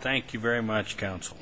Thank you very much, Counsel.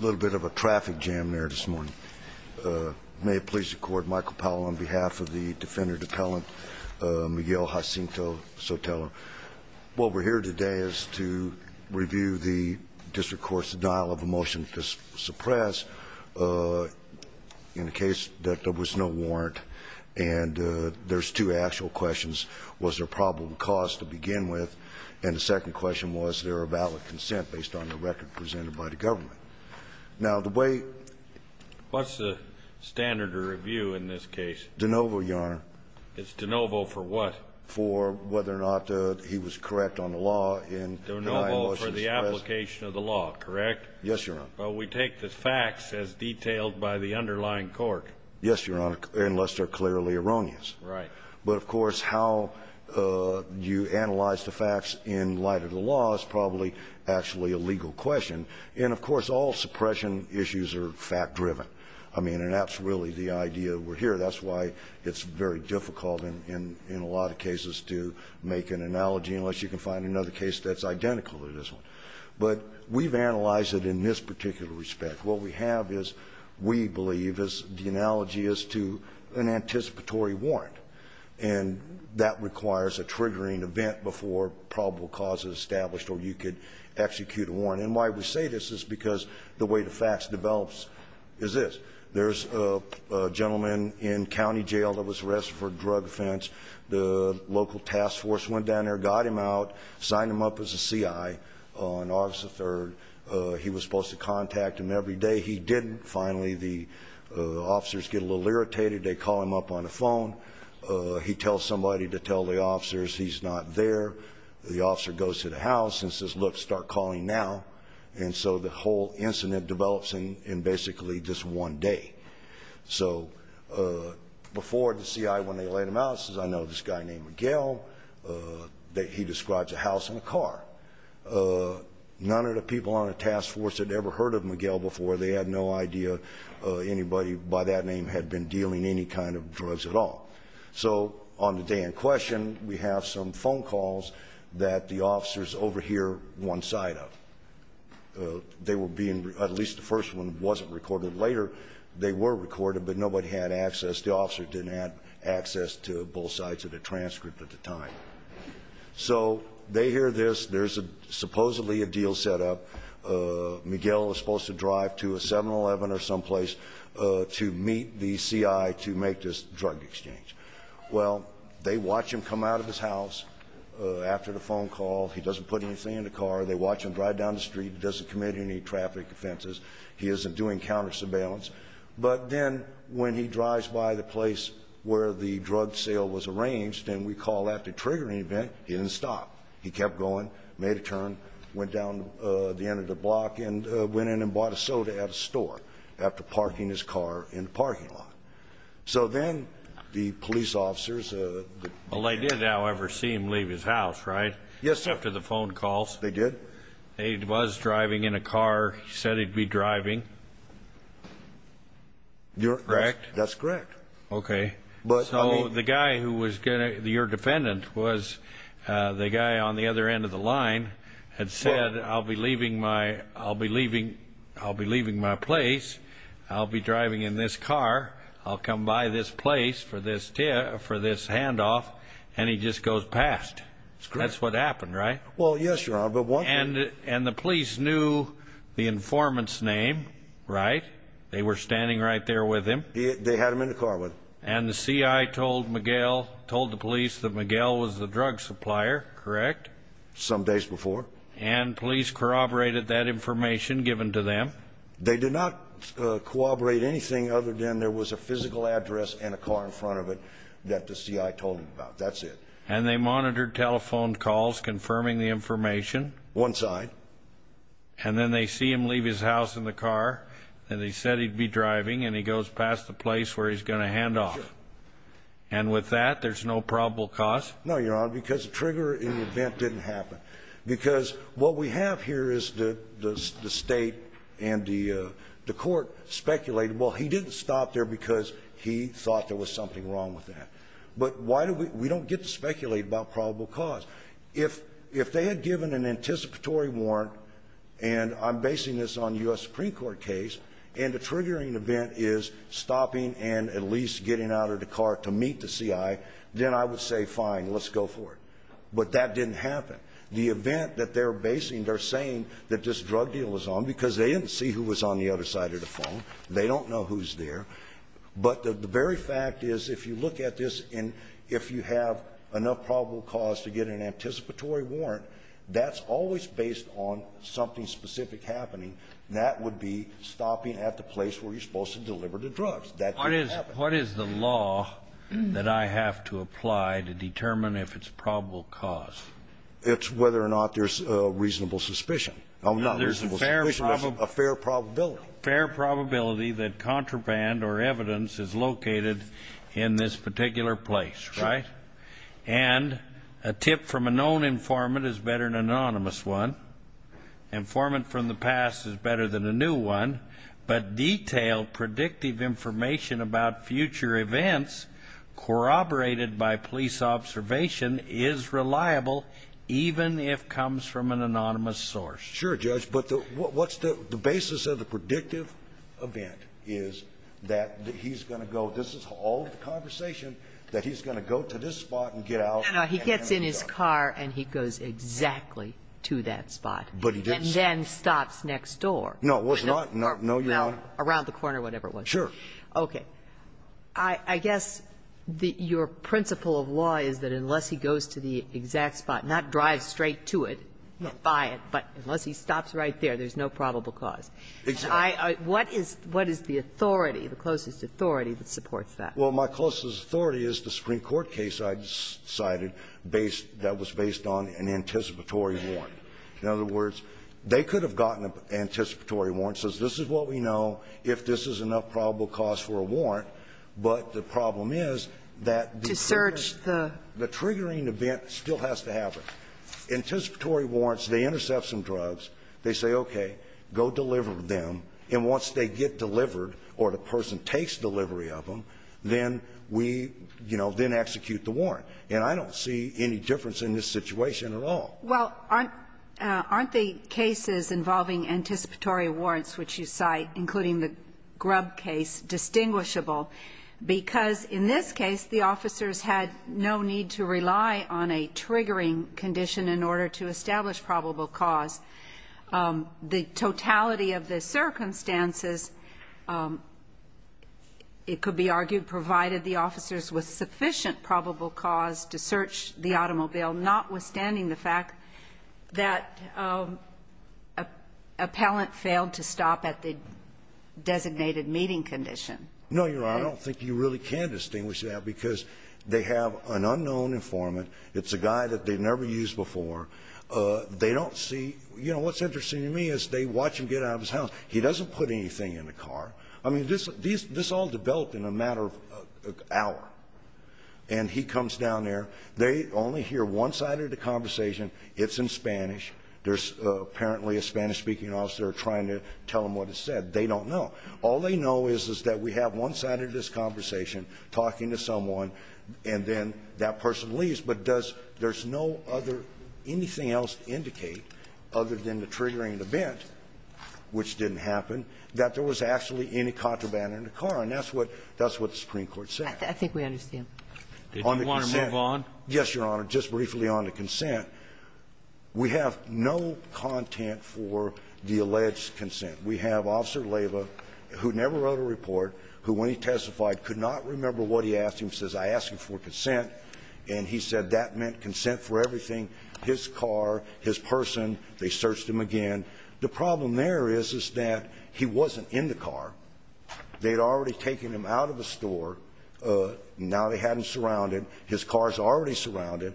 A little bit of a traffic jam there this morning. May it please the Court, Michael Powell on behalf of the defendant appellant, Miguel Jacinto-Sotelo. What we're here today is to review the district court's denial of a motion to suppress in the case that there was no warrant. And there's two actual questions. One was, was there a problem caused to begin with? And the second question was, was there a valid consent based on the record presented by the government? Now, the way ---- What's the standard of review in this case? De novo, Your Honor. It's de novo for what? For whether or not he was correct on the law in denying a motion to suppress. De novo for the application of the law, correct? Yes, Your Honor. But we take the facts as detailed by the underlying court. Yes, Your Honor, unless they're clearly erroneous. Right. But, of course, how you analyze the facts in light of the law is probably actually a legal question. And, of course, all suppression issues are fact-driven. I mean, and that's really the idea we're here. That's why it's very difficult in a lot of cases to make an analogy unless you can find another case that's identical to this one. But we've analyzed it in this particular respect. What we have is, we believe, is the analogy is to an anticipatory warrant. And that requires a triggering event before probable cause is established or you could execute a warrant. And why we say this is because the way the facts develops is this. There's a gentleman in county jail that was arrested for a drug offense. The local task force went down there, got him out, signed him up as a C.I. on August the 3rd. He was supposed to contact him every day. He didn't. Finally, the officers get a little irritated. They call him up on the phone. He tells somebody to tell the officers he's not there. The officer goes to the house and says, look, start calling now. And so the whole incident develops in basically just one day. So before the C.I., when they let him out, says, I know this guy named Miguel. He describes a house and a car. None of the people on the task force had ever heard of Miguel before. They had no idea anybody by that name had been dealing any kind of drugs at all. So on the day in question, we have some phone calls that the officers overhear one side of. They were being, at least the first one wasn't recorded. Later, they were recorded, but nobody had access. The officers didn't have access to both sides of the transcript at the time. So they hear this. There's supposedly a deal set up. Miguel was supposed to drive to a 7-Eleven or someplace to meet the C.I. to make this drug exchange. Well, they watch him come out of his house after the phone call. He doesn't put anything in the car. They watch him drive down the street. He doesn't commit any traffic offenses. He isn't doing counter-surveillance. But then when he drives by the place where the drug sale was arranged, and we call that the triggering event, he didn't stop. He kept going, made a turn, went down the end of the block and went in and bought a soda at a store after parking his car in the parking lot. So then the police officers. Well, they did, however, see him leave his house, right? Yes, sir. After the phone calls. They did. He was driving in a car. He said he'd be driving. Correct? That's correct. Okay. So the guy who was your defendant was the guy on the other end of the line had said, I'll be leaving my place. I'll be driving in this car. I'll come by this place for this handoff. And he just goes past. That's what happened, right? Well, yes, Your Honor. And the police knew the informant's name, right? They were standing right there with him. They had him in the car with them. And the CI told Miguel, told the police that Miguel was the drug supplier, correct? Some days before. And police corroborated that information given to them? They did not corroborate anything other than there was a physical address and a car in front of it that the CI told them about. That's it. And they monitored telephone calls confirming the information? One side. And then they see him leave his house in the car, and they said he'd be driving, and he goes past the place where he's going to handoff. And with that, there's no probable cause? No, Your Honor, because the trigger in the event didn't happen. Because what we have here is the state and the court speculated, well, he didn't stop there because he thought there was something wrong with that. But we don't get to speculate about probable cause. If they had given an anticipatory warrant, and I'm basing this on a U.S. Supreme Court case, and the triggering event is stopping and at least getting out of the car to meet the CI, then I would say, fine, let's go for it. But that didn't happen. The event that they're basing, they're saying that this drug deal was on because they didn't see who was on the other side of the phone. They don't know who's there. But the very fact is, if you look at this, and if you have enough probable cause to get an anticipatory warrant, that's always based on something specific happening. That would be stopping at the place where you're supposed to deliver the drugs. That didn't happen. What is the law that I have to apply to determine if it's probable cause? It's whether or not there's reasonable suspicion. There's a fair probability. Fair probability that contraband or evidence is located in this particular place, right? Sure. And a tip from a known informant is better than an anonymous one. Informant from the past is better than a new one. But detailed predictive information about future events corroborated by police observation is reliable, even if comes from an anonymous source. Sure, Judge. But what's the basis of the predictive event is that he's going to go, this is all the conversation, that he's going to go to this spot and get out. No, no. He gets in his car and he goes exactly to that spot. But he didn't stop. And then stops next door. No, it was not. No, Your Honor. Around the corner, whatever it was. Sure. Okay. I guess your principle of law is that unless he goes to the exact spot, not drive straight to it, buy it, but unless he stops right there, there's no probable cause. Exactly. What is the authority, the closest authority that supports that? Well, my closest authority is the Supreme Court case I cited based that was based on an anticipatory warrant. In other words, they could have gotten an anticipatory warrant, says this is what we know, if this is enough probable cause for a warrant, but the problem is that the triggering event still has to happen. Anticipatory warrants, they intercept some drugs, they say, okay, go deliver them, and once they get delivered or the person takes delivery of them, then we, you know, then execute the warrant. And I don't see any difference in this situation at all. Well, aren't the cases involving anticipatory warrants, which you cite, including the Grubb case, distinguishable? Because in this case, the officers had no need to rely on a triggering condition in order to establish probable cause. The totality of the circumstances, it could be argued, provided the officers with sufficient probable cause to search the automobile, notwithstanding the fact that appellant failed to stop at the designated meeting condition. No, Your Honor. I don't think you really can distinguish that because they have an unknown informant. It's a guy that they've never used before. They don't see you know, what's interesting to me is they watch him get out of his house. He doesn't put anything in the car. I mean, this all developed in a matter of an hour. And he comes down there. They only hear one side of the conversation. It's in Spanish. There's apparently a Spanish-speaking officer trying to tell him what it said. They don't know. All they know is, is that we have one side of this conversation, talking to someone, and then that person leaves. But does no other anything else indicate, other than the triggering event, which didn't happen, that there was actually any contraband in the car? And that's what the Supreme Court said. I think we understand. Did you want to move on? Yes, Your Honor. Just briefly on the consent. We have no content for the alleged consent. We have Officer Leyva, who never wrote a report, who when he testified could not remember what he asked him. He says, I asked him for consent. And he said that meant consent for everything, his car, his person. They searched him again. The problem there is, is that he wasn't in the car. They had already taken him out of the store. Now they had him surrounded. His car is already surrounded.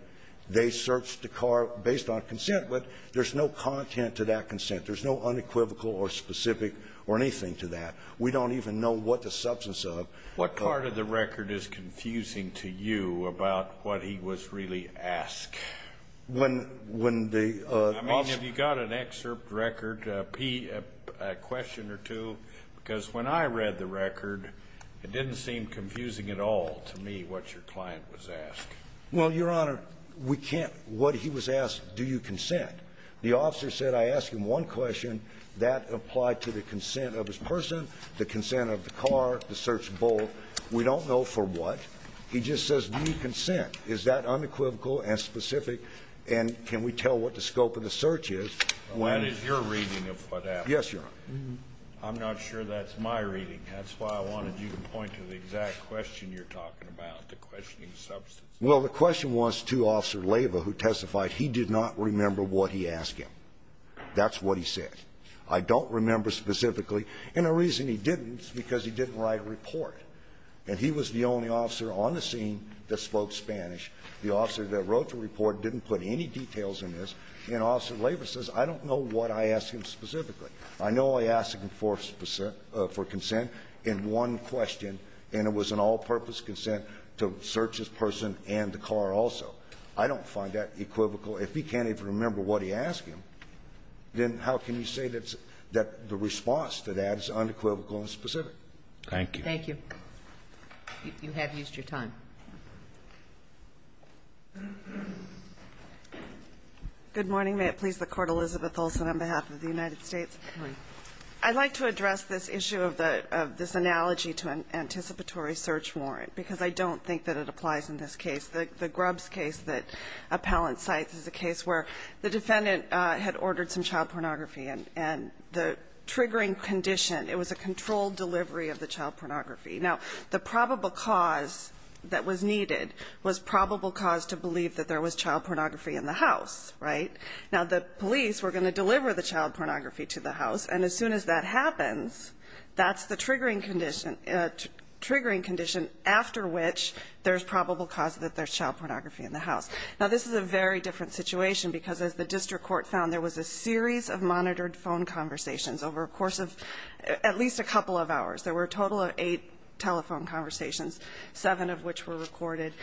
They searched the car based on consent. But there's no content to that consent. There's no unequivocal or specific or anything to that. We don't even know what the substance of. What part of the record is confusing to you about what he was really asked? When the officer ---- I mean, have you got an excerpt record, a question or two? Because when I read the record, it didn't seem confusing at all to me what your client was asked. Well, Your Honor, we can't ---- what he was asked, do you consent? The officer said, I asked him one question. That applied to the consent of his person, the consent of the car, the search bolt. We don't know for what. He just says, do you consent? Is that unequivocal and specific? And can we tell what the scope of the search is? Well, that is your reading of what happened. Yes, Your Honor. I'm not sure that's my reading. That's why I wanted you to point to the exact question you're talking about, the questioning substance. Well, the question was to Officer Leyva, who testified he did not remember what he asked him. That's what he said. I don't remember specifically. And the reason he didn't is because he didn't write a report. And he was the only officer on the scene that spoke Spanish. The officer that wrote the report didn't put any details in this. And Officer Leyva says, I don't know what I asked him specifically. I know I asked him for consent in one question, and it was an all-purpose consent to search his person and the car also. I don't find that equivocal. If he can't even remember what he asked him, then how can you say that the response to that is unequivocal and specific? Thank you. Thank you. You have used your time. Good morning. May it please the Court. Elizabeth Olsen on behalf of the United States. Good morning. I'd like to address this issue of this analogy to an anticipatory search warrant, because I don't think that it applies in this case. The Grubbs case that Appellant cites is a case where the defendant had ordered some child pornography, and the triggering condition, it was a controlled delivery of the child pornography. Now, the probable cause that was needed was probable cause to believe that there was child pornography in the house, right? Now, the police were going to deliver the child pornography to the house, and as soon as that happens, that's the triggering condition after which there's probable cause that there's child pornography in the house. Now, this is a very different situation, because as the district court found, there was a series of monitored phone conversations over a course of at least a couple of hours. There were a total of eight telephone conversations, seven of which were recorded,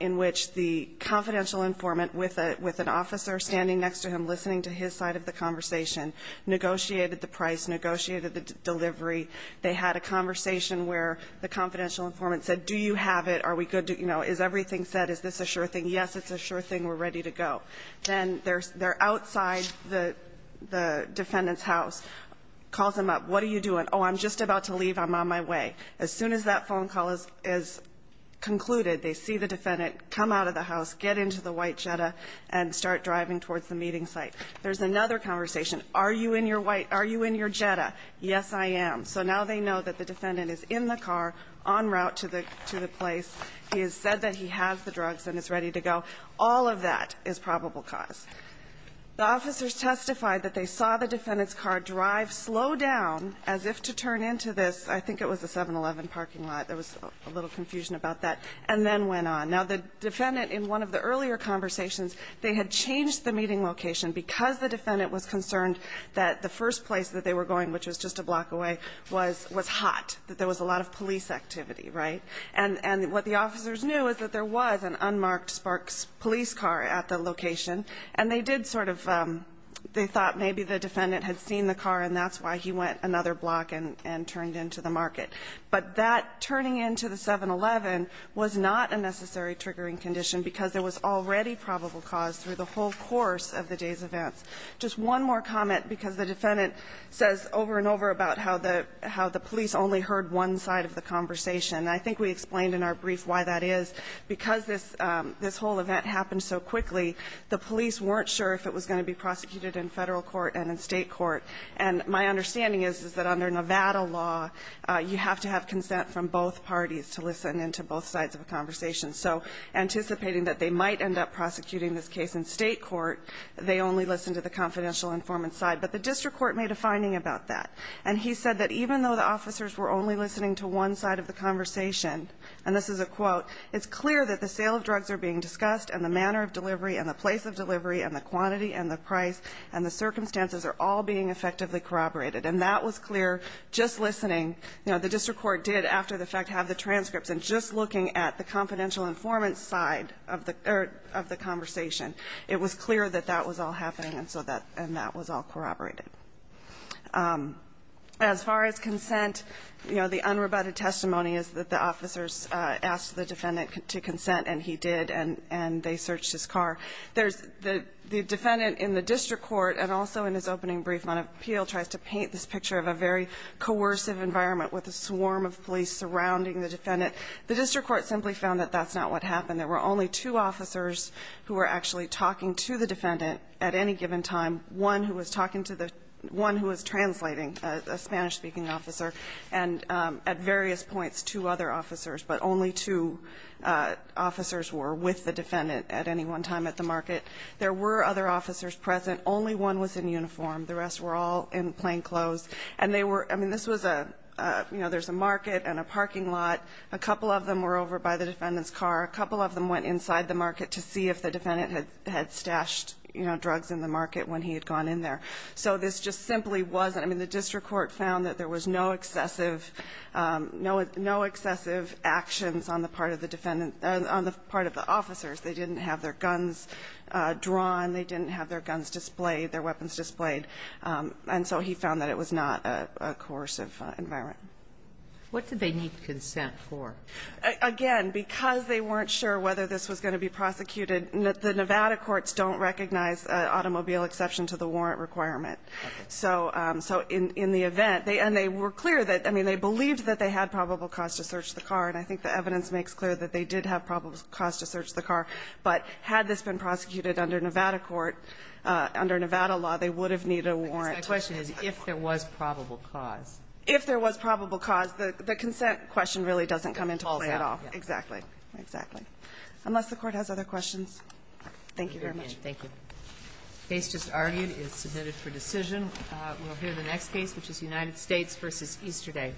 in which the confidential informant with an officer standing next to him listening to his side of the conversation, negotiated the price, negotiated the delivery. They had a conversation where the confidential informant said, do you have it? Are we good? You know, is everything set? Is this a sure thing? Yes, it's a sure thing. We're ready to go. Then they're outside the defendant's house, calls him up. What are you doing? Oh, I'm just about to leave. I'm on my way. As soon as that phone call is concluded, they see the defendant, come out of the There's another conversation. Are you in your Jetta? Yes, I am. So now they know that the defendant is in the car, en route to the place. He has said that he has the drugs and is ready to go. All of that is probable cause. The officers testified that they saw the defendant's car drive slow down as if to turn into this. I think it was a 7-Eleven parking lot. There was a little confusion about that. And then went on. Now, the defendant, in one of the earlier conversations, they had changed the meeting location because the defendant was concerned that the first place that they were going, which was just a block away, was hot, that there was a lot of police activity, right? And what the officers knew is that there was an unmarked Sparks police car at the location. And they did sort of, they thought maybe the defendant had seen the car and that's why he went another block and turned into the market. But that turning into the 7-Eleven was not a necessary triggering condition because there was already probable cause through the whole course of the day's events. Just one more comment, because the defendant says over and over about how the police only heard one side of the conversation. I think we explained in our brief why that is. Because this whole event happened so quickly, the police weren't sure if it was going to be prosecuted in Federal court and in State court. And my understanding is that under Nevada law, you have to have consent from both parties to listen into both sides of a conversation. So anticipating that they might end up prosecuting this case in State court, they only listened to the confidential informant's side. But the district court made a finding about that. And he said that even though the officers were only listening to one side of the conversation, and this is a quote, it's clear that the sale of drugs are being discussed and the manner of delivery and the place of delivery and the quantity and the price and the circumstances are all being effectively corroborated. And that was clear just listening. You know, the district court did, after the fact, have the transcripts. And just looking at the confidential informant's side of the conversation, it was clear that that was all happening and so that that was all corroborated. As far as consent, you know, the unrebutted testimony is that the officers asked the defendant to consent, and he did, and they searched his car. There's the defendant in the district court, and also in his opening brief on appeal, he still tries to paint this picture of a very coercive environment with a swarm of police surrounding the defendant. The district court simply found that that's not what happened. There were only two officers who were actually talking to the defendant at any given time, one who was talking to the one who was translating, a Spanish-speaking officer, and at various points two other officers, but only two officers were with the defendant at any one time at the market. There were other officers present. Only one was in uniform. The rest were all in plainclothes. And they were – I mean, this was a – you know, there's a market and a parking lot. A couple of them were over by the defendant's car. A couple of them went inside the market to see if the defendant had stashed, you know, drugs in the market when he had gone in there. So this just simply wasn't – I mean, the district court found that there was no excessive – no excessive actions on the part of the defendant – on the part of the officers. They didn't have their guns drawn. They didn't have their guns displayed, their weapons displayed. And so he found that it was not a coercive environment. What did they need consent for? Again, because they weren't sure whether this was going to be prosecuted, the Nevada courts don't recognize automobile exception to the warrant requirement. So in the event – and they were clear that – I mean, they believed that they had probable cause to search the car, and I think the evidence makes clear that they did have probable cause to search the car. But had this been prosecuted under Nevada court, under Nevada law, they would have needed a warrant to search the car. But my question is if there was probable cause. If there was probable cause. The consent question really doesn't come into play at all. Exactly. Exactly. Unless the Court has other questions. Thank you very much. Thank you. The case just argued is submitted for decision. We'll hear the next case, which is United States v. Easterday.